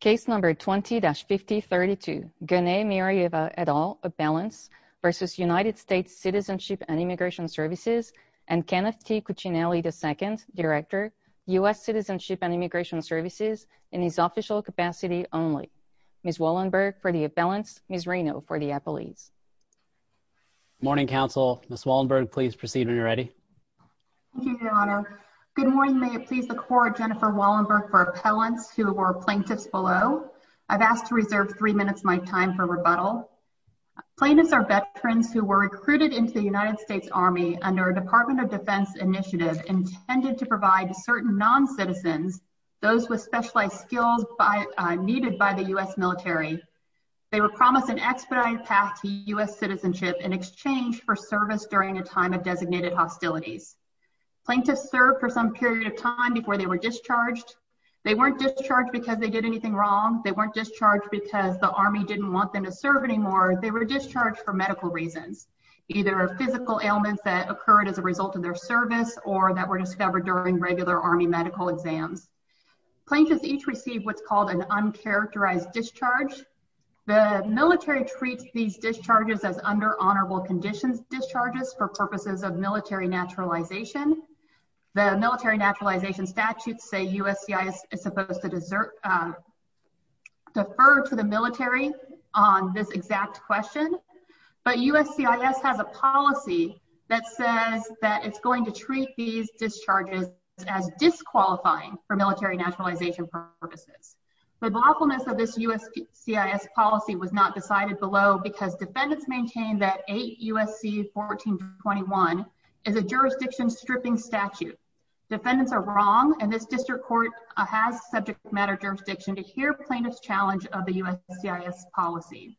Case No. 20-5032, Gunay Miriyeva et al., of balance, v. United States Citizenship and Immigration Services, and Kenneth T. Cuccinelli II, Director, U.S. Citizenship and Immigration Services, in his official capacity only. Ms. Wallenberg for the of balance, Ms. Reno for the appellees. Morning Council. Ms. Wallenberg, please proceed when you're ready. Thank you, Your Honor. Good morning. Good morning. May it please the Court, Jennifer Wallenberg for appellants who are plaintiffs below. I've asked to reserve three minutes of my time for rebuttal. Plaintiffs are veterans who were recruited into the United States Army under a Department of Defense initiative intended to provide certain non-citizens those with specialized skills needed by the U.S. military. They were promised an expedited path to U.S. citizenship in exchange for service during a time of designated hostilities. Plaintiffs served for some period of time before they were discharged. They weren't discharged because they did anything wrong. They weren't discharged because the Army didn't want them to serve anymore. They were discharged for medical reasons, either physical ailments that occurred as a result of their service or that were discovered during regular Army medical exams. Plaintiffs each received what's called an uncharacterized discharge. The military treats these discharges as under honorable conditions discharges for purposes of military naturalization. The military naturalization statutes say USCIS is supposed to defer to the military on this exact question, but USCIS has a policy that says that it's going to treat these discharges as disqualifying for military naturalization purposes. The lawfulness of this USCIS policy was not decided below because defendants maintained that 8 U.S.C. 1421 is a jurisdiction stripping statute. Defendants are wrong, and this district court has subject matter jurisdiction to hear plaintiffs' challenge of the USCIS policy.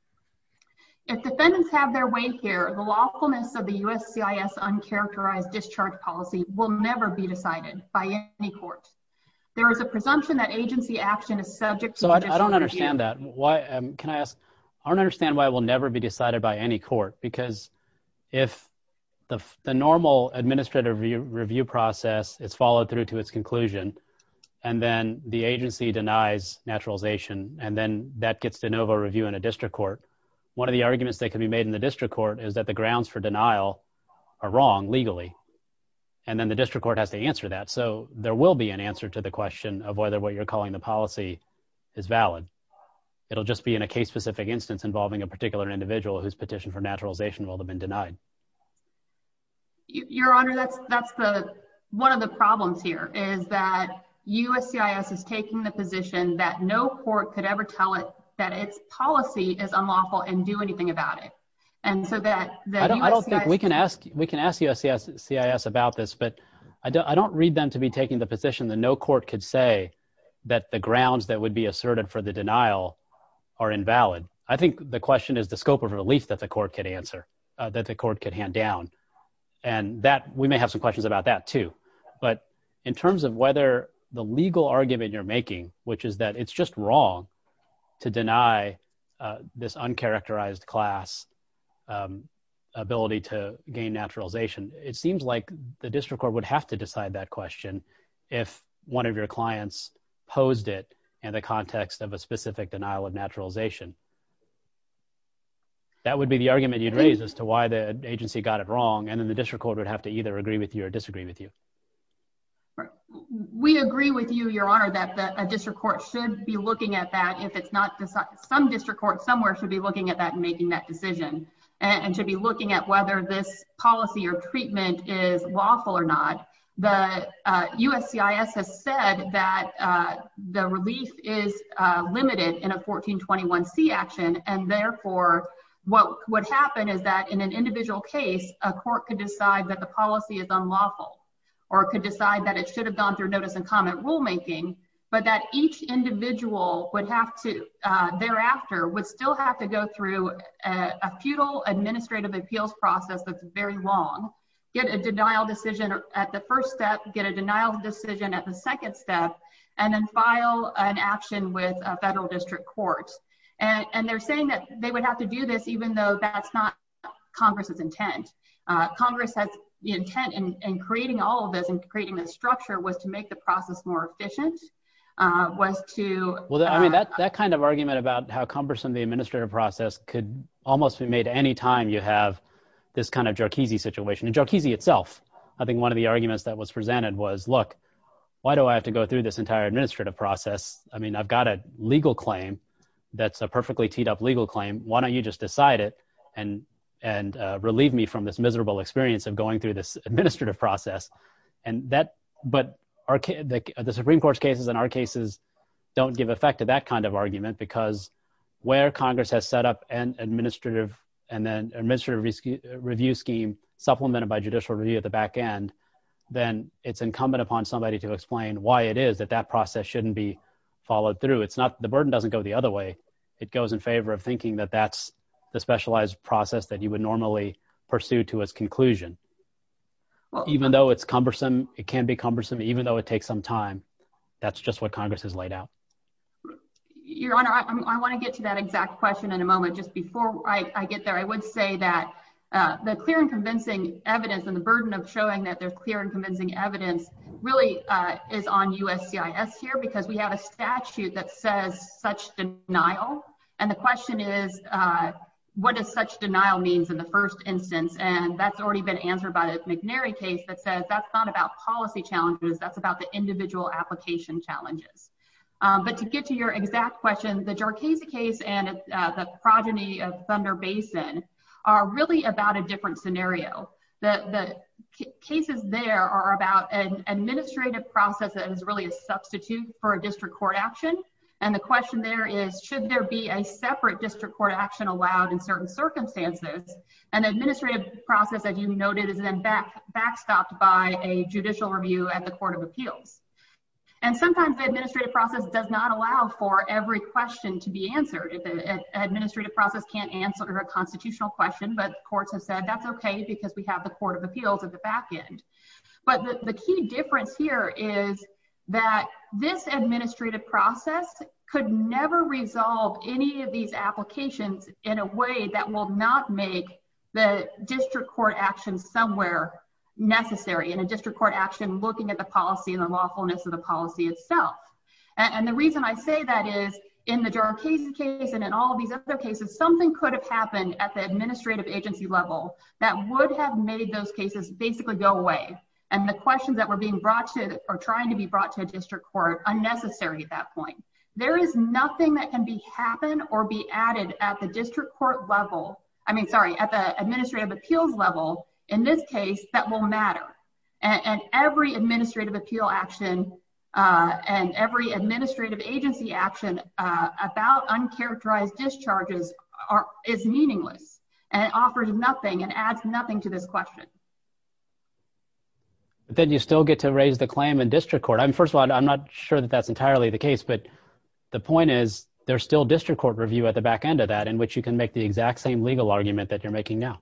If defendants have their way here, the lawfulness of the USCIS uncharacterized discharge policy will never be decided by any court. There is a presumption that agency action is subject to a discharge review. So I don't understand that. Can I ask, I don't understand why it will never be decided by any court because if the normal administrative review process is followed through to its conclusion and then the agency denies naturalization and then that gets de novo review in a district court, one of the arguments that can be made in the district court is that the grounds for denial are wrong legally and then the district court has to answer that. So there will be an answer to the question of whether what you're calling the policy is valid. It'll just be in a case specific instance involving a particular individual whose petition for naturalization will have been denied. Your Honor, that's that's the one of the problems here is that USCIS is taking the position that no court could ever tell it that its policy is unlawful and do anything about it. And so that I don't think we can ask. We can ask USCIS about this, but I don't read them to be taking the position that no court could say that the grounds that would be asserted for the denial are invalid. I think the question is the scope of relief that the court could answer, that the court could hand down and that we may have some questions about that too. But in terms of whether the legal argument you're making, which is that it's just wrong to deny this uncharacterized class ability to gain naturalization. It seems like the district court would have to decide that question if one of your clients posed it in the context of a specific denial of naturalization. That would be the argument you'd raise as to why the agency got it wrong. And then the district court would have to either agree with you or disagree with you. We agree with you, Your Honor, that a district court should be looking at that if it's not some district court somewhere should be looking at that and making that decision and should be looking at whether this policy or treatment is lawful or not. The USCIS has said that the relief is limited in a 1421C action and therefore what would happen is that in an individual case, a court could decide that the policy is unlawful or could decide that it should have gone through notice and comment rulemaking, but that each very long, get a denial decision at the first step, get a denial decision at the second step, and then file an action with a federal district court. And they're saying that they would have to do this even though that's not Congress's intent. Congress has the intent in creating all of this and creating this structure was to make the process more efficient, was to... That kind of argument about how cumbersome the administrative process could almost be at any time you have this kind of Jarkizi situation, and Jarkizi itself. I think one of the arguments that was presented was, look, why do I have to go through this entire administrative process? I mean, I've got a legal claim that's a perfectly teed up legal claim, why don't you just decide it and relieve me from this miserable experience of going through this administrative process? But the Supreme Court's cases and our cases don't give effect to that kind of argument because where Congress has set up an administrative review scheme supplemented by judicial review at the back end, then it's incumbent upon somebody to explain why it is that that process shouldn't be followed through. The burden doesn't go the other way. It goes in favor of thinking that that's the specialized process that you would normally pursue to its conclusion. Even though it's cumbersome, it can be cumbersome, even though it takes some time, that's just what Congress has laid out. Your Honor, I want to get to that exact question in a moment. Just before I get there, I would say that the clear and convincing evidence and the burden of showing that there's clear and convincing evidence really is on USCIS here because we have a statute that says such denial. And the question is, what does such denial means in the first instance? And that's already been answered by the McNary case that says that's not about policy challenges, that's about the individual application challenges. But to get to your exact question, the Jarcase case and the progeny of Thunder Basin are really about a different scenario. The cases there are about an administrative process that is really a substitute for a district court action. And the question there is, should there be a separate district court action allowed in certain circumstances, an administrative process that you noted is then backstopped by a judicial review at the Court of Appeals? And sometimes the administrative process does not allow for every question to be answered. The administrative process can't answer a constitutional question, but courts have said that's okay because we have the Court of Appeals at the back end. But the key difference here is that this administrative process could never resolve any of these applications in a way that will not make the district court action somewhere necessary. In a district court action, looking at the policy and the lawfulness of the policy itself. And the reason I say that is in the Jarcase case and in all of these other cases, something could have happened at the administrative agency level that would have made those cases basically go away. And the questions that were being brought to or trying to be brought to a district court are unnecessary at that point. There is nothing that can happen or be added at the district court level, I mean, sorry, at the administrative appeals level in this case that will matter. And every administrative appeal action and every administrative agency action about uncharacterized discharges is meaningless and offers nothing and adds nothing to this question. Then you still get to raise the claim in district court. I mean, first of all, I'm not sure that that's entirely the case, but the point is there's still district court review at the back end of that in which you can make the exact same legal argument that you're making now.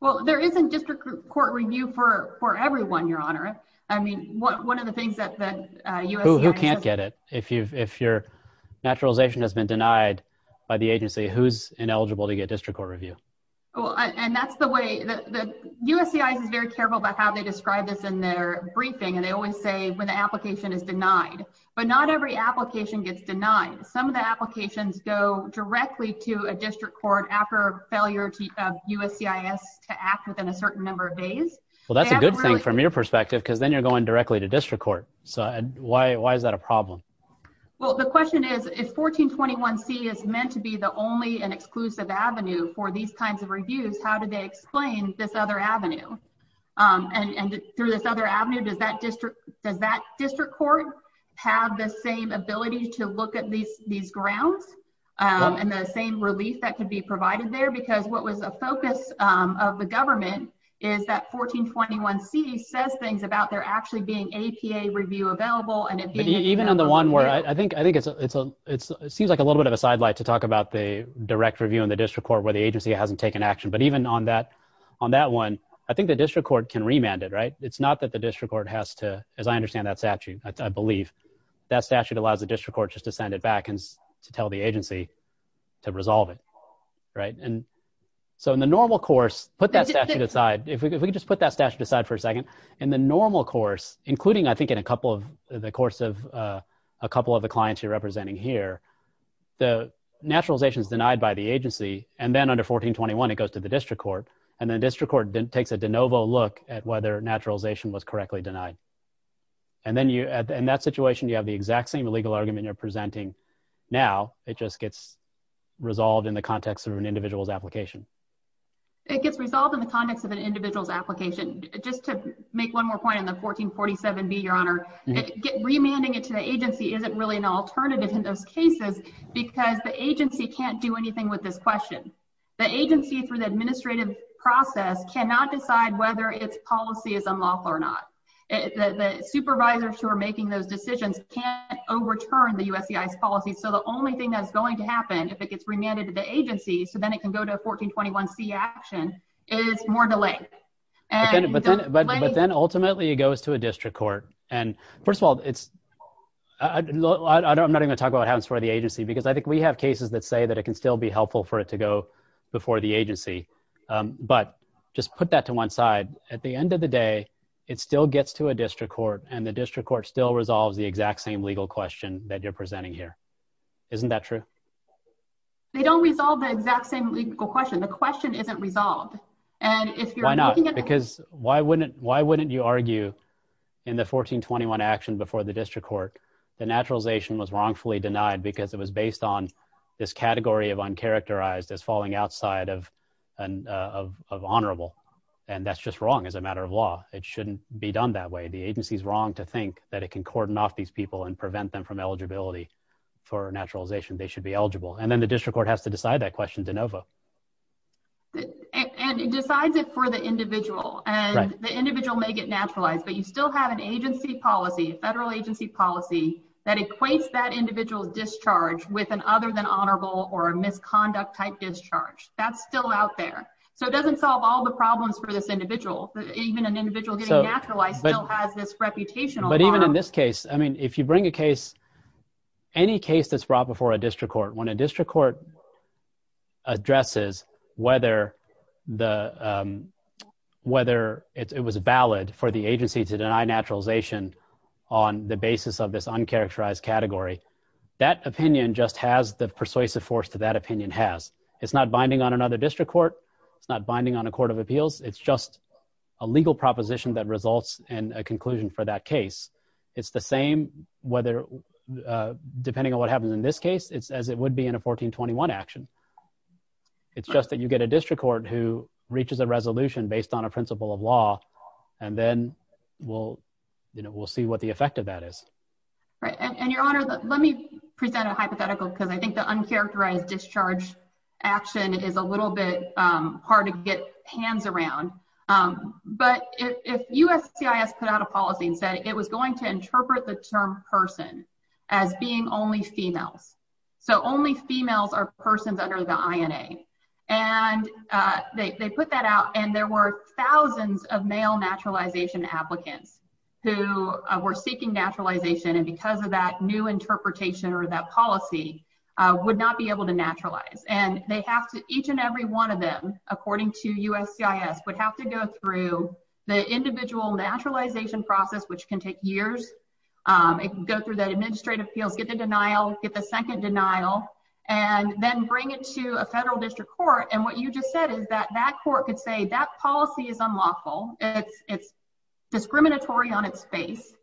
Well, there isn't district court review for everyone, Your Honor. I mean, one of the things that the USCIS- Who can't get it? If your naturalization has been denied by the agency, who's ineligible to get district court review? Well, and that's the way that the USCIS is very careful about how they describe this in their briefing. And they always say when the application is denied, but not every application gets denied. Some of the applications go directly to a district court after failure of USCIS to act within a certain number of days. Well, that's a good thing from your perspective because then you're going directly to district court. So why is that a problem? Well, the question is, if 1421C is meant to be the only and exclusive avenue for these kinds of reviews, how do they explain this other avenue? And through this other avenue, does that district court have the same ability to look at these grounds and the same relief that could be provided there? Because what was a focus of the government is that 1421C says things about there actually being APA review available and it being- Even on the one where, I think it seems like a little bit of a sidelight to talk about the direct review in the district court where the agency hasn't taken action. But even on that one, I think the district court can remand it, right? It's not that the district court has to, as I understand that statute, I believe, that it's up to the applicants to tell the agency to resolve it, right? And so in the normal course, put that statute aside, if we could just put that statute aside for a second. In the normal course, including, I think, in a couple of the course of a couple of the clients you're representing here, the naturalization is denied by the agency. And then under 1421, it goes to the district court. And then district court takes a de novo look at whether naturalization was correctly denied. And then you, in that situation, you have the exact same legal argument you're presenting now. It just gets resolved in the context of an individual's application. It gets resolved in the context of an individual's application. Just to make one more point on the 1447B, Your Honor, remanding it to the agency isn't really an alternative in those cases because the agency can't do anything with this question. The agency, through the administrative process, cannot decide whether its policy is unlawful or not. The supervisors who are making those decisions can't overturn the USCI's policy. So the only thing that's going to happen if it gets remanded to the agency, so then it can go to a 1421C action, is more delay. But then ultimately, it goes to a district court. And first of all, I'm not going to talk about what happens for the agency because I think we have cases that say that it can still be helpful for it to go before the agency. But just put that to one side. At the end of the day, it still gets to a district court and the district court still resolves the exact same legal question that you're presenting here. Isn't that true? They don't resolve the exact same legal question. The question isn't resolved. And if you're looking at the- Why not? Because why wouldn't you argue in the 1421 action before the district court, the naturalization was wrongfully denied because it was based on this category of uncharacterized as falling outside of honorable. And that's just wrong as a matter of law. It shouldn't be done that way. The agency is wrong to think that it can cordon off these people and prevent them from eligibility for naturalization. They should be eligible. And then the district court has to decide that question de novo. And it decides it for the individual and the individual may get naturalized, but you still have an agency policy, a federal agency policy that equates that individual's discharge with an other than honorable or a misconduct type discharge. That's still out there. So it doesn't solve all the problems for this individual. Even an individual getting naturalized still has this reputational- But even in this case, I mean, if you bring a case, any case that's brought before a district court, when a district court addresses whether it was valid for the agency to deny naturalization on the basis of this uncharacterized category, that opinion just has the persuasive force to that opinion has. It's not binding on another district court. It's not binding on a court of appeals. It's just a legal proposition that results in a conclusion for that case. It's the same, depending on what happens in this case, it's as it would be in a 1421 action. It's just that you get a district court who reaches a resolution based on a principle of law, and then we'll see what the effect of that is. Right. And your honor, let me present a hypothetical because I think the uncharacterized discharge action is a little bit hard to get hands around. But if USCIS put out a policy and said it was going to interpret the term person as being only females, so only females are persons under the INA, and they put that out and there were thousands of male naturalization applicants who were seeking naturalization. And because of that new interpretation or that policy would not be able to naturalize. And they have to each and every one of them, according to USCIS, would have to go through the individual naturalization process, which can take years, go through that administrative appeals, get the denial, get the second denial, and then bring it to a federal district court. And what you just said is that that court could say that policy is unlawful, it's discriminatory on its face.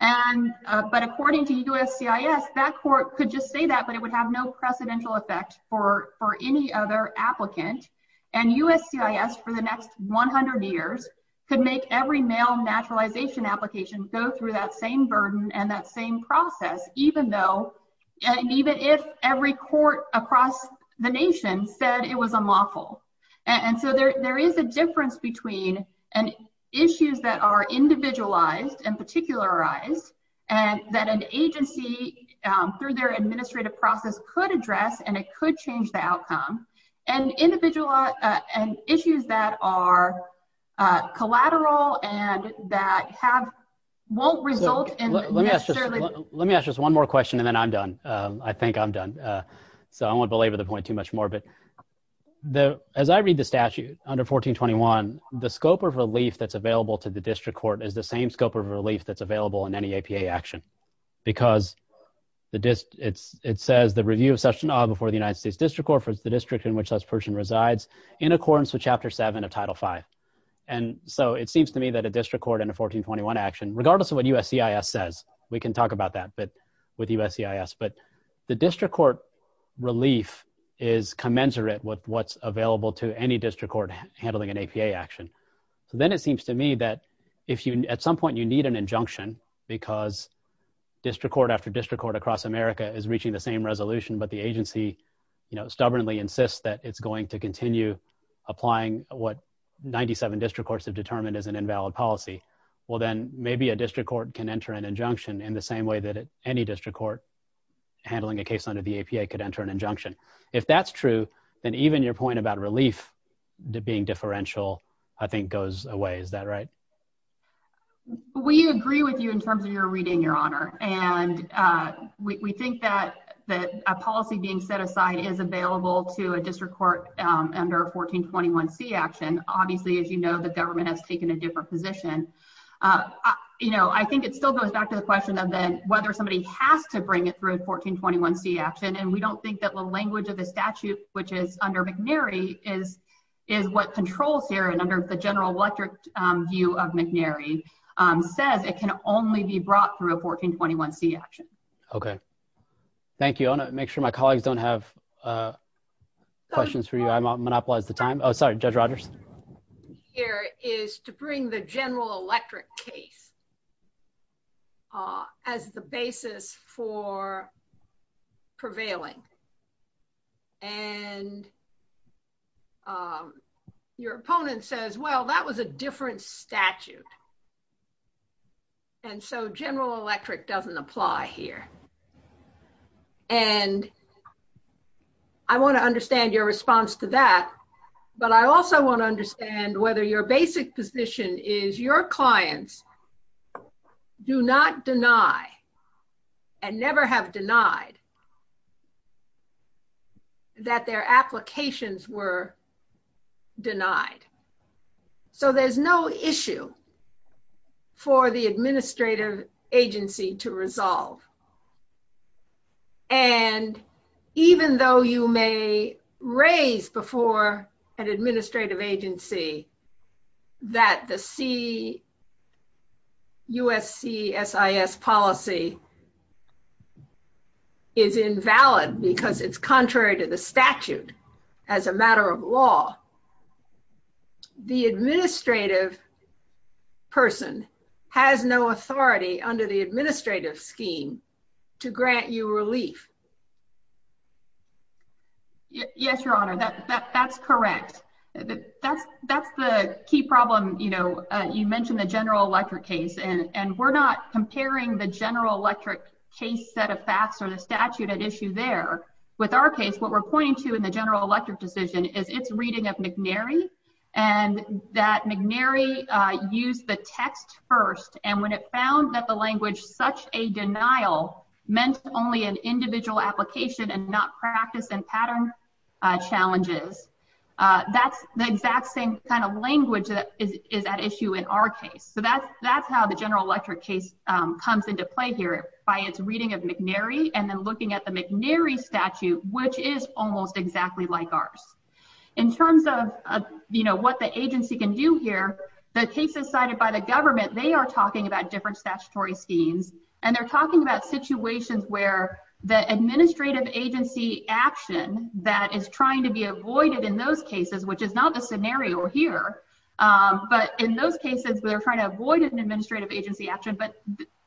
And but according to USCIS, that court could just say that, but it would have no precedential effect for any other applicant. And USCIS, for the next 100 years, could make every male naturalization application go through that same burden and that same process, even though, even if every court across the nation said it was unlawful. And so there is a difference between issues that are individualized and particularized and that an agency, through their administrative process, could address, and it could change the outcome, and issues that are collateral and that won't result in necessarily... Let me ask just one more question and then I'm done. I think I'm done. So I won't belabor the point too much more, but as I read the statute under 1421, the scope of relief that's available to the district court is the same scope of relief that's available in any APA action. Because it says, the review of such and odd before the United States District Court for the district in which such person resides in accordance with Chapter 7 of Title V. And so it seems to me that a district court in a 1421 action, regardless of what USCIS says, we can talk about that with USCIS, but the district court relief is commensurate with what's available to any district court handling an APA action. Then it seems to me that at some point you need an injunction because district court after district court across America is reaching the same resolution, but the agency stubbornly insists that it's going to continue applying what 97 district courts have determined as an invalid policy. Well, then maybe a district court can enter an injunction in the same way that any district court handling a case under the APA could enter an injunction. If that's true, then even your point about relief being differential, I think goes away. Is that right? We agree with you in terms of your reading, Your Honor. And we think that a policy being set aside is available to a district court under 1421C action. Obviously, as you know, the government has taken a different position. I think it still goes back to the question of whether somebody has to bring it through a 1421C action, and we don't think that the language of the statute, which is under McNary, is what controls here and under the general electorate view of McNary, says it can only be brought through a 1421C action. Okay. Thank you. I want to make sure my colleagues don't have questions for you. I monopolized the time. Oh, sorry. Judge Rogers? Here is to bring the general electorate case as the basis for prevailing. And your opponent says, well, that was a different statute. And so general electorate doesn't apply here. And I want to understand your response to that, but I also want to understand whether your basic position is your clients do not deny and never have denied that their applications were denied. So there's no issue for the administrative agency to resolve. And even though you may raise before an administrative agency that the CUSC SIS policy is invalid because it's contrary to the statute as a matter of law, the administrative person has no authority under the administrative scheme to grant you relief. Yes, Your Honor, that's correct. That's the key problem, you know, you mentioned the general electorate case, and we're not there. With our case, what we're pointing to in the general electorate decision is its reading of McNary, and that McNary used the text first. And when it found that the language such a denial meant only an individual application and not practice and pattern challenges, that's the exact same kind of language that is at issue in our case. So that's how the general electorate case comes into play here by its reading of McNary and then looking at the McNary statute, which is almost exactly like ours. In terms of, you know, what the agency can do here, the cases cited by the government, they are talking about different statutory schemes. And they're talking about situations where the administrative agency action that is trying to be avoided in those cases, which is not the scenario here. But in those cases, they're trying to avoid an administrative agency action, but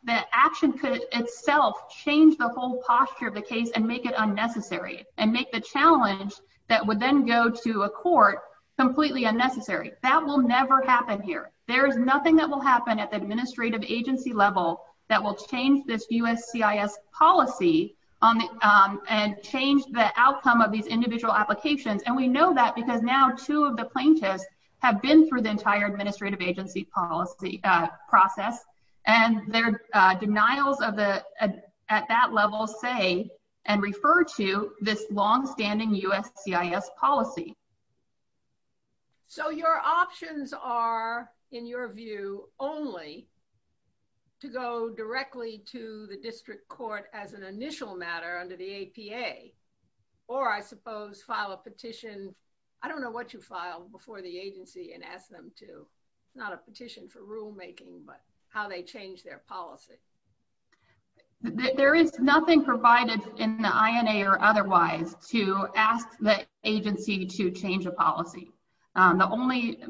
that action could itself change the whole posture of the case and make it unnecessary and make the challenge that would then go to a court completely unnecessary. That will never happen here. There's nothing that will happen at the administrative agency level that will change this USCIS policy and change the outcome of these individual applications. And we know that because now two of the plaintiffs have been through the entire administrative agency policy process, and their denials at that level say and refer to this longstanding USCIS policy. So your options are, in your view, only to go directly to the district court as an initial matter under the APA, or I suppose file a petition. I don't know what you file before the agency and ask them to, not a petition for rulemaking, but how they change their policy. There is nothing provided in the INA or otherwise to ask the agency to change a policy. The only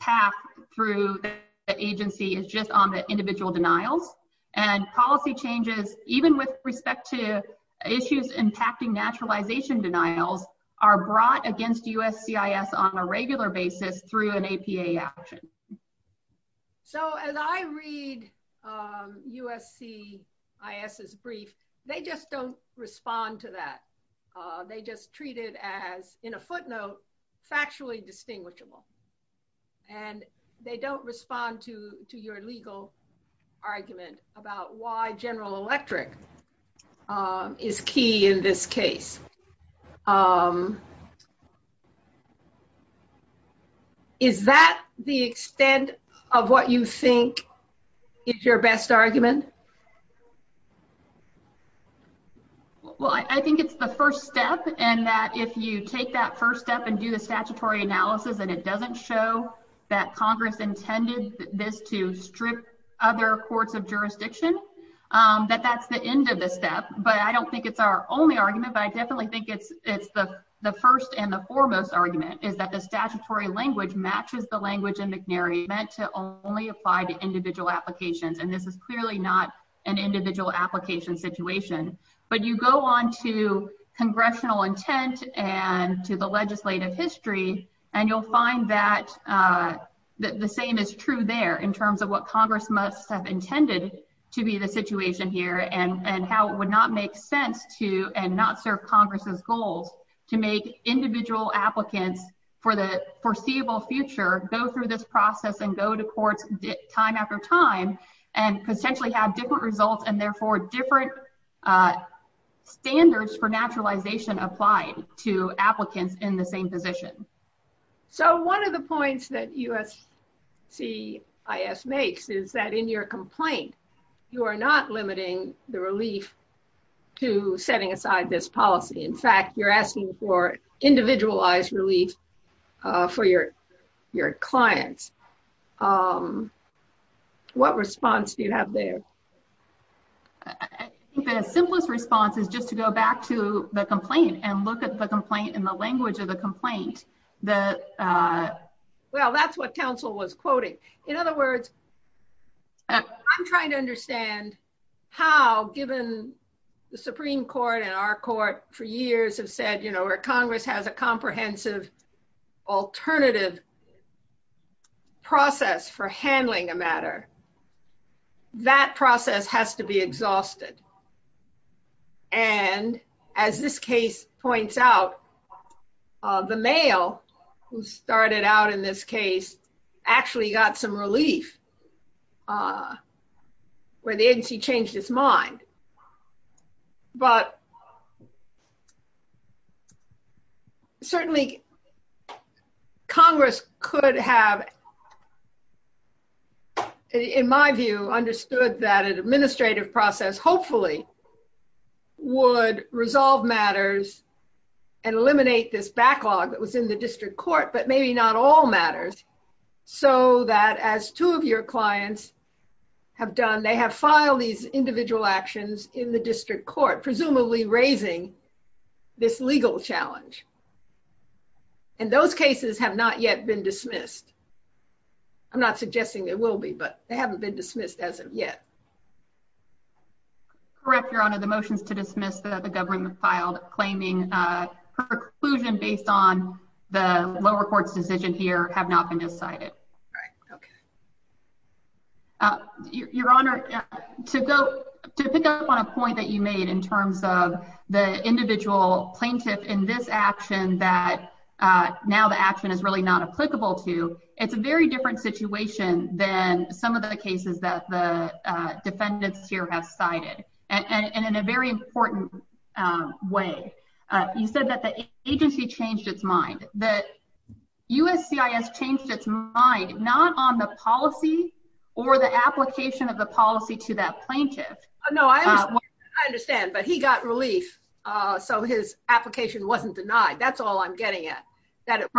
path through the agency is just on the individual denials. And policy changes, even with respect to issues impacting naturalization denials, are brought against USCIS on a regular basis through an APA action. So as I read USCIS's brief, they just don't respond to that. They just treat it as, in a footnote, factually distinguishable. And they don't respond to your legal argument about why General Electric is key in this case. Is that the extent of what you think is your best argument? Well, I think it's the first step, and that if you take that first step and do the statutory analysis and it doesn't show that Congress intended this to strip other courts of jurisdiction, that that's the end of the step. But I don't think it's our only argument, but I definitely think it's the first and the foremost argument, is that the statutory language matches the language in McNary meant to only apply to individual applications. And this is clearly not an individual application situation. But you go on to congressional intent and to the legislative history, and you'll find that the same is true there in terms of what Congress must have intended to be the situation here and how it would not make sense to, and not serve Congress's goals, to make individual applicants for the foreseeable future go through this process and go to courts time after time and potentially have different results and therefore different standards for naturalization applied to applicants in the same position. So one of the points that USCIS makes is that in your complaint, you are not limiting the relief to setting aside this policy. In fact, you're asking for individualized relief for your clients. What response do you have there? I think the simplest response is just to go back to the complaint and look at the complaint in the language of the complaint that, well, that's what counsel was quoting. In other words, I'm trying to understand how, given the Supreme Court and our court for alternative process for handling a matter, that process has to be exhausted. And as this case points out, the male who started out in this case actually got some relief where the agency changed his mind. But certainly Congress could have, in my view, understood that an administrative process hopefully would resolve matters and eliminate this backlog that was in the district court, but maybe not all matters, so that as two of your clients have done, they have filed these individual actions in the district court, presumably raising this legal challenge. And those cases have not yet been dismissed. I'm not suggesting they will be, but they haven't been dismissed as of yet. Correct, Your Honor. The motions to dismiss the government filed claiming perclusion based on the lower court's decision here have not been decided. Right. Okay. Your Honor, to pick up on a point that you made in terms of the individual plaintiff in this action that now the action is really not applicable to, it's a very different situation than some of the cases that the defendants here have cited, and in a very important way. You said that the agency changed its mind. You said that USCIS changed its mind, not on the policy or the application of the policy to that plaintiff. No, I understand, but he got relief, so his application wasn't denied. That's all I'm getting at, that it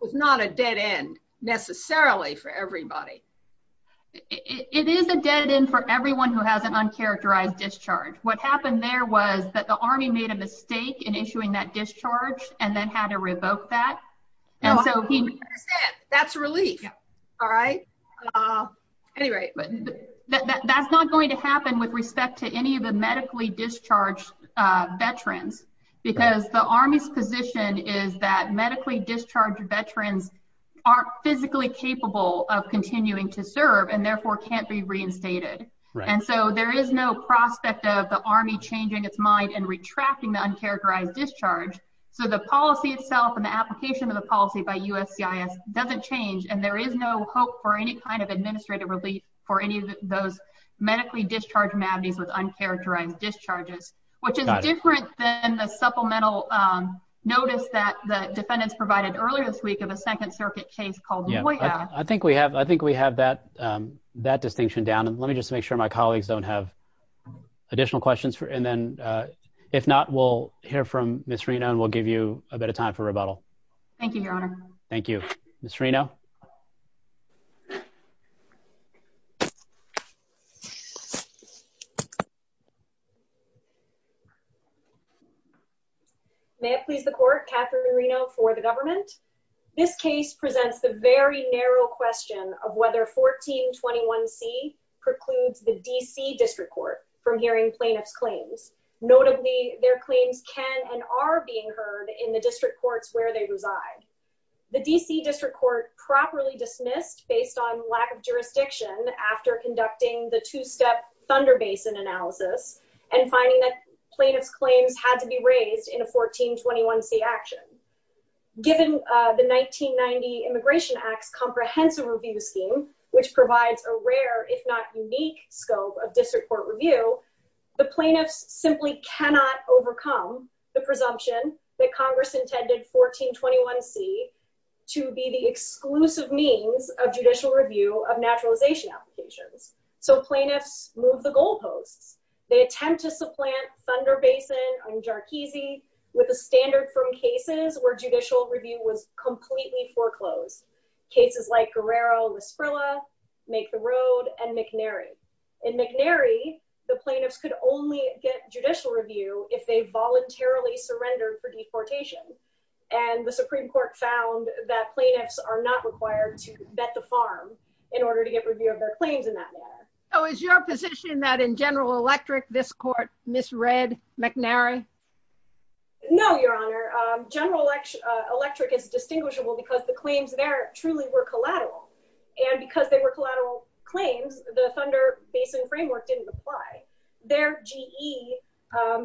was not a dead end necessarily for everybody. It is a dead end for everyone who has an uncharacterized discharge. What happened there was that the Army made a mistake in issuing that discharge and then had to revoke that. I understand. That's a relief. Yeah. All right. Anyway. But that's not going to happen with respect to any of the medically discharged veterans because the Army's position is that medically discharged veterans aren't physically capable of continuing to serve and therefore can't be reinstated, and so there is no prospect of the Army changing its mind and retracting the uncharacterized discharge, so the policy itself and the application of the policy by USCIS doesn't change, and there is no hope for any kind of administrative relief for any of those medically discharged madness with uncharacterized discharges, which is different than the supplemental notice that the defendants provided earlier this week of a Second Circuit case called Boyack. I think we have that distinction down, and let me just make sure my colleagues don't have additional questions, and then if not, we'll hear from Ms. Reno, and we'll give you a bit of time for rebuttal. Thank you, Your Honor. Thank you. Ms. Reno? May it please the Court, Katherine Reno for the government. This case presents the very narrow question of whether 1421C precludes the D.C. District Court from hearing plaintiffs' claims. Notably, their claims can and are being heard in the district courts where they reside. The D.C. District Court properly dismissed, based on lack of jurisdiction after conducting the two-step Thunder Basin analysis, and finding that plaintiffs' claims had to be raised in a 1421C action. Given the 1990 Immigration Act's comprehensive review scheme, which provides a rare, if not simply cannot overcome the presumption that Congress intended 1421C to be the exclusive means of judicial review of naturalization applications. So plaintiffs moved the goalposts. They attempt to supplant Thunder Basin and Jarkizi with a standard from cases where judicial review was completely foreclosed, cases like Guerrero-La Sprilla, Make the Road, and McNary. In McNary, the plaintiffs could only get judicial review if they voluntarily surrendered for deportation, and the Supreme Court found that plaintiffs are not required to vet the farm in order to get review of their claims in that manner. Oh, is your position that in General Electric, this Court misread McNary? No, Your Honor. General Electric is distinguishable because the claims there truly were collateral, and the Thunder Basin framework didn't apply. Their GE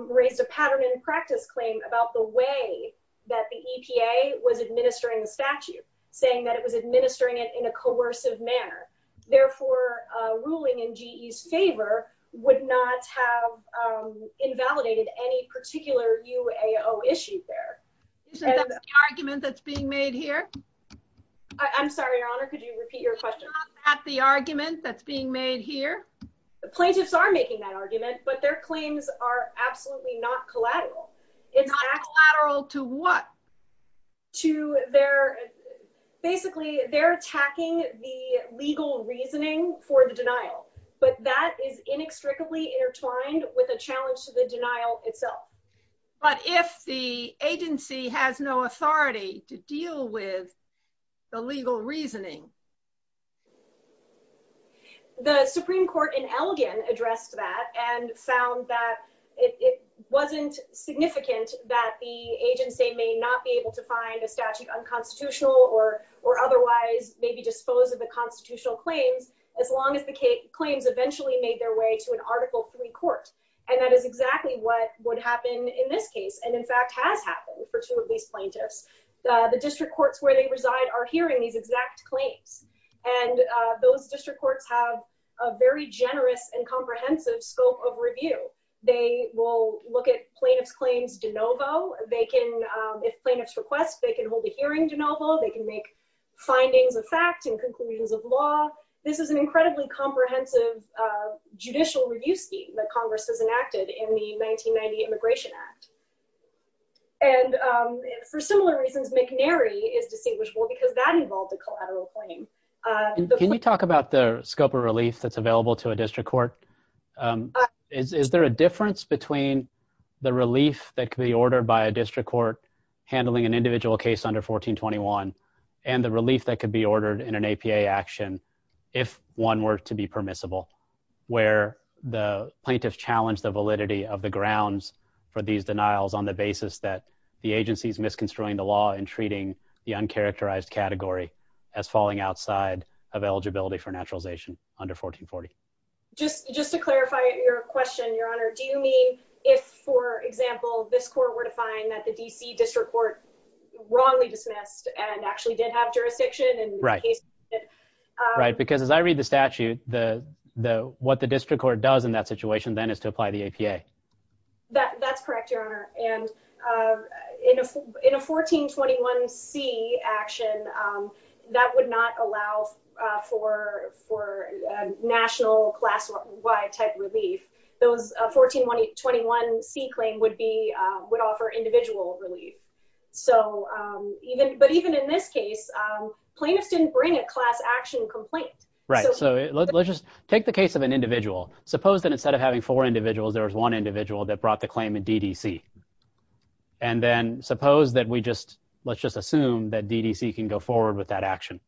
raised a pattern and practice claim about the way that the EPA was administering the statute, saying that it was administering it in a coercive manner. Therefore, ruling in GE's favor would not have invalidated any particular UAO issue there. Is that the argument that's being made here? I'm sorry, Your Honor, could you repeat your question? Is that the argument that's being made here? Plaintiffs are making that argument, but their claims are absolutely not collateral. It's not collateral to what? To their, basically, they're attacking the legal reasoning for the denial, but that is inextricably intertwined with a challenge to the denial itself. But if the agency has no authority to deal with the legal reasoning? The Supreme Court in Elgin addressed that and found that it wasn't significant that the agency may not be able to find a statute unconstitutional or otherwise maybe dispose of the constitutional claims, as long as the claims eventually made their way to an Article 3 court. And that is exactly what would happen in this case, and in fact, has happened for two of these plaintiffs. The district courts where they reside are hearing these exact claims, and those district courts have a very generous and comprehensive scope of review. They will look at plaintiff's claims de novo, they can, if plaintiffs request, they can hold a hearing de novo, they can make findings of fact and conclusions of law. This is an incredibly comprehensive judicial review scheme that Congress has enacted in the 1990 Immigration Act. And for similar reasons, McNary is distinguishable because that involved a collateral claim. Can you talk about the scope of relief that's available to a district court? Is there a difference between the relief that could be ordered by a district court handling an individual case under 1421 and the relief that could be ordered in an APA action if one were to be permissible, where the plaintiff challenged the validity of the grounds for these denials on the basis that the agency is misconstruing the law and treating the uncharacterized category as falling outside of eligibility for naturalization under 1440? Just to clarify your question, Your Honor, do you mean if, for example, this court were to find that the D.C. district court wrongly dismissed and actually did have jurisdiction in the case? Right. Because as I read the statute, what the district court does in that situation then is to apply the APA. That's correct, Your Honor. And in a 1421C action, that would not allow for national class-wide type relief. Those 1421C claim would be, would offer individual relief. So even, but even in this case, plaintiffs didn't bring a class action complaint. Right. So let's just take the case of an individual. Suppose that instead of having four individuals, there was one individual that brought the claim in D.D.C. And then suppose that we just, let's just assume that D.D.C. can go forward with that action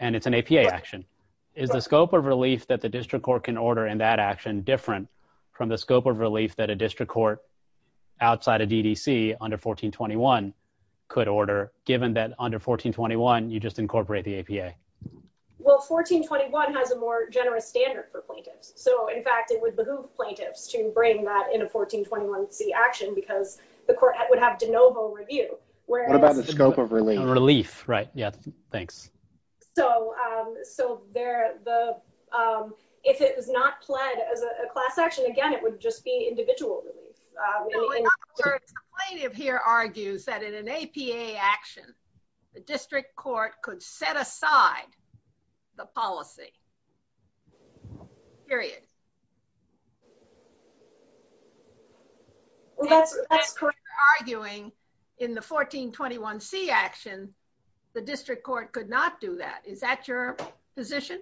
and it's an APA action. Is the scope of relief that the district court can order in that action different from the scope of relief that a district court outside of D.D.C. under 1421 could order, given that under 1421, you just incorporate the APA? Well, 1421 has a more generous standard for plaintiffs. So in fact, it would behoove plaintiffs to bring that in a 1421C action because the court would have de novo review. What about the scope of relief? Relief, right. Yeah. Thanks. So, so there, the, if it was not pled as a class action, again, it would just be individual relief. No, in other words, the plaintiff here argues that in an APA action, the district court could set aside the policy. Period. Well, that's, that's correct. But you're arguing in the 1421C action, the district court could not do that. Is that your position?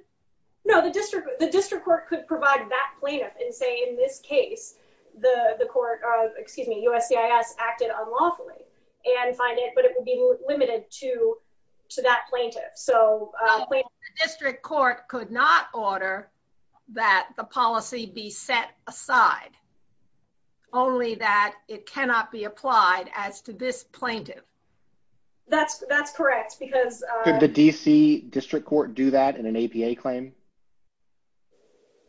No, the district, the district court could provide that plaintiff and say, in this case, the court of, excuse me, USCIS acted unlawfully and find it, but it would be limited to, to that plaintiff. So the district court could not order that the policy be set aside. Only that it cannot be applied as to this plaintiff. That's, that's correct because, uh, could the DC district court do that in an APA claim?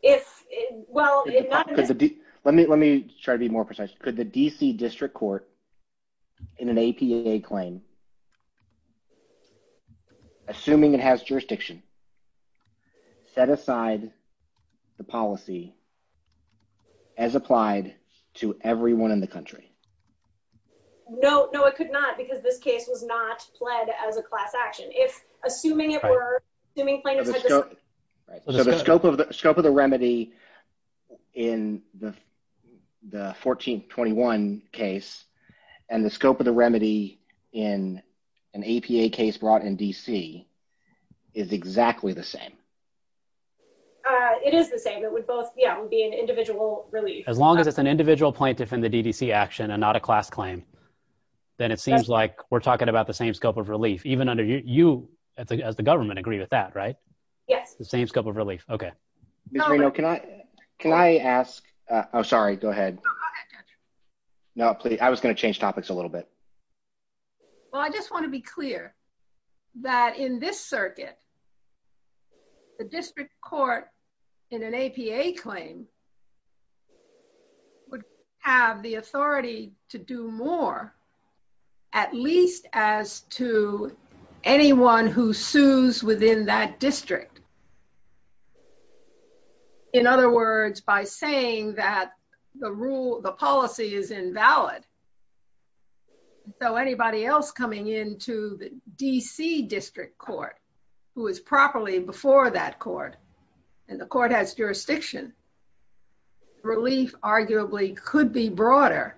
If well, let me, let me try to be more precise. Could the DC district court in an APA claim, assuming it has jurisdiction, set aside the policy as applied to everyone in the country? No, no, it could not because this case was not pled as a class action. If assuming it were, assuming plaintiff had the scope. Right. So the scope of the scope of the remedy in the, the 1421 case and the scope of the remedy in an APA case brought in DC is exactly the same. Uh, it is the same. Yeah. It would be an individual relief. As long as it's an individual plaintiff in the DDC action and not a class claim, then it seems like we're talking about the same scope of relief, even under you as the government agree with that. Right. Yes. The same scope of relief. Okay. Can I, can I ask, uh, Oh, sorry. Go ahead. No, please. I was going to change topics a little bit. Well, I just want to be clear that in this circuit, the district court in an APA claim would have the authority to do more, at least as to anyone who sues within that district. In other words, by saying that the rule, the policy is invalid. So anybody else coming into the DC district court who is properly before that court and the court has jurisdiction, relief arguably could be broader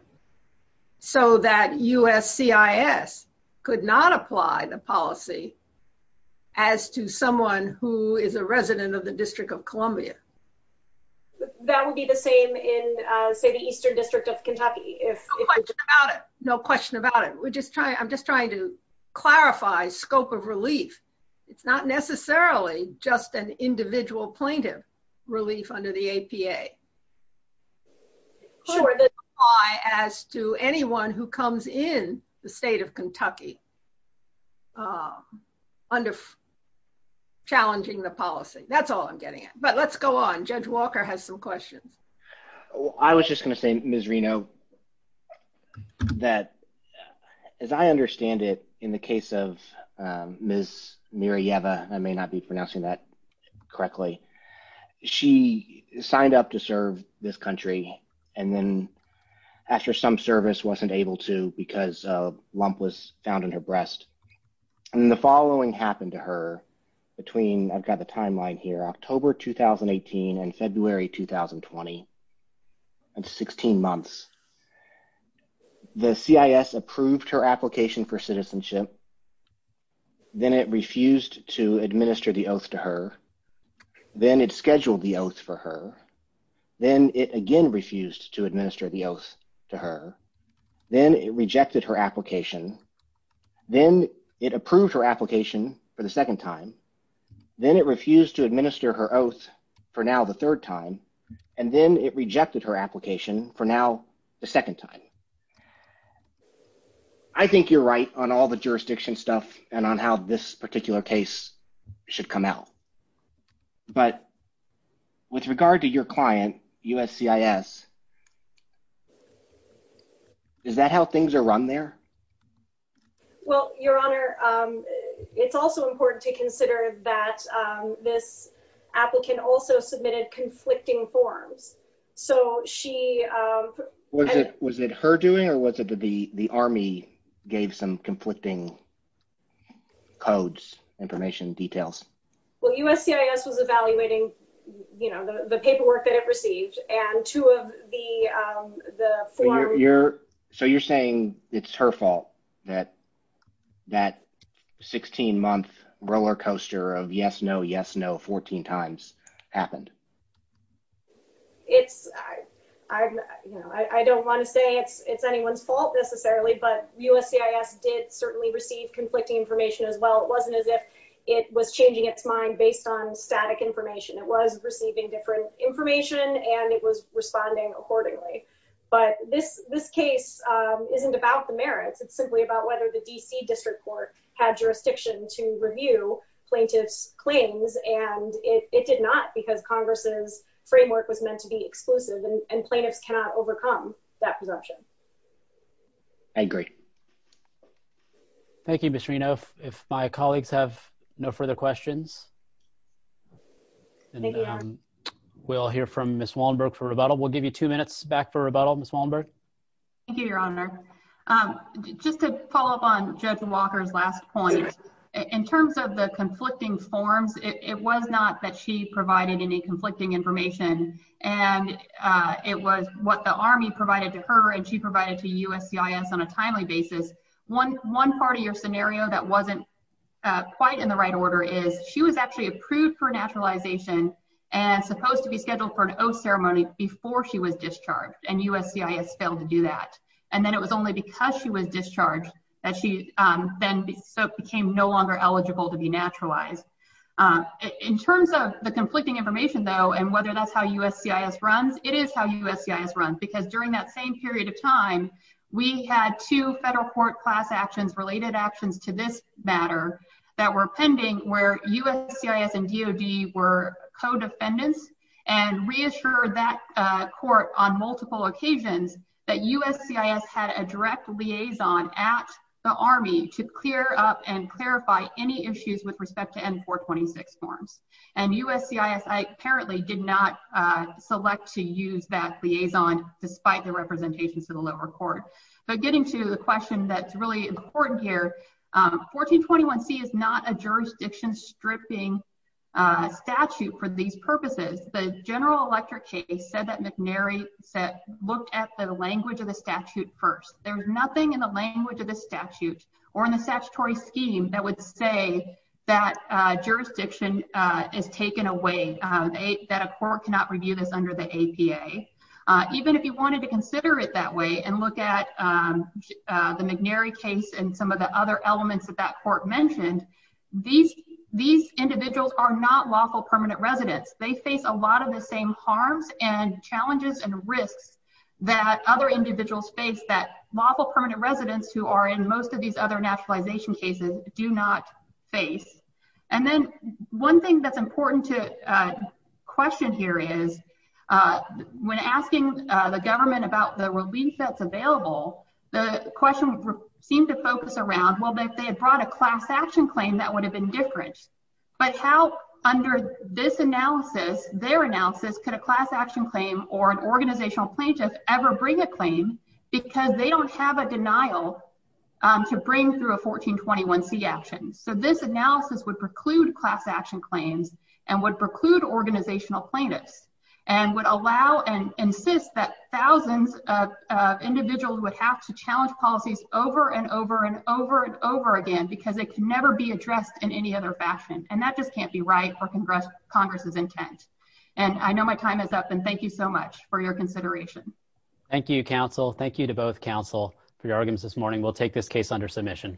so that USCIS could not apply the policy as to someone who is a resident of the district of Columbia. That would be the same in say the Eastern district of Kentucky. No question about it. We're just trying, I'm just trying to clarify scope of relief. It's not necessarily just an individual plaintiff relief under the APA as to anyone who comes in the state of Kentucky, uh, under challenging the policy. That's all I'm getting at. But let's go on. Judge Walker has some questions. I was just going to say, Ms. Reno, that as I understand it, in the case of Ms. Mirajeva, I may not be pronouncing that correctly. She signed up to serve this country and then after some service wasn't able to because a lump was found in her breast and the following happened to her between, I've got the timeline here, October, 2018 and February, 2020 and 16 months, the CIS approved her application for citizenship. Then it refused to administer the oath to her. Then it scheduled the oath for her. Then it again refused to administer the oath to her. Then it rejected her application. Then it approved her application for the second time. Then it refused to administer her oath for now the third time. And then it rejected her application for now the second time. I think you're right on all the jurisdiction stuff and on how this particular case should come out. But with regard to your client, USCIS, is that how things are run there? Well, Your Honor, it's also important to consider that this applicant also submitted conflicting forms. So she... Was it her doing or was it the Army gave some conflicting codes, information, details? Well, USCIS was evaluating the paperwork that it received and two of the forms... So you're saying it's her fault that that 16-month roller coaster of yes, no, yes, no, 14 times happened? It's... I don't want to say it's anyone's fault necessarily, but USCIS did certainly receive conflicting information as well. It wasn't as if it was changing its mind based on static information. It was receiving different information and it was responding accordingly. But this case isn't about the merits. It's simply about whether the DC District Court had jurisdiction to review plaintiff's claims and it did not because Congress's framework was meant to be exclusive and plaintiffs cannot overcome that presumption. I agree. Thank you, Ms. Reno. If my colleagues have no further questions, we'll hear from Ms. Wallenberg for rebuttal. We'll give you two minutes back for rebuttal. Ms. Wallenberg? Thank you, Your Honor. Just to follow up on Judge Walker's last point, in terms of the conflicting forms, it was not that she provided any conflicting information and it was what the Army provided to her and she provided to USCIS on a timely basis. One part of your scenario that wasn't quite in the right order is she was actually approved for naturalization and supposed to be scheduled for an oath ceremony before she was discharged and USCIS failed to do that. And then it was only because she was discharged that she then became no longer eligible to be naturalized. In terms of the conflicting information, though, and whether that's how USCIS runs, it is how USCIS runs because during that same period of time, we had two federal court class actions related actions to this matter that were pending where USCIS and DOD were co-defendants and reassured that court on multiple occasions that USCIS had a direct liaison at the Army to clear up and clarify any issues with respect to N-426 forms. And USCIS apparently did not select to use that liaison despite the representations to the lower court. But getting to the question that's really important here, 1421C is not a jurisdiction stripping statute for these purposes. The General Electric case said that McNary said, looked at the language of the statute first. There's nothing in the language of the statute or in the statutory scheme that would say that jurisdiction is taken away, that a court cannot review this under the APA. Even if you wanted to consider it that way and look at the McNary case and some of the other elements that that court mentioned, these individuals are not lawful permanent residents. They face a lot of the same harms and challenges and risks that other individuals face that lawful permanent residents who are in most of these other naturalization cases do not face. And then one thing that's important to question here is when asking the government about the relief that's available, the question seemed to focus around, well, if they had brought a class action claim, that would have been different. But how under this analysis, their analysis, could a class action claim or an organizational plaintiff ever bring a claim because they don't have a denial to bring through a 1421C action? So this analysis would preclude class action claims and would preclude organizational plaintiffs and would allow and insist that thousands of individuals would have to challenge policies over and over and over and over again because it can never be addressed in any other fashion. And that just can't be right for Congress's intent. And I know my time is up. And thank you so much for your consideration. Thank you, counsel. Thank you to both counsel for your arguments this morning. We'll take this case under submission. Thank you.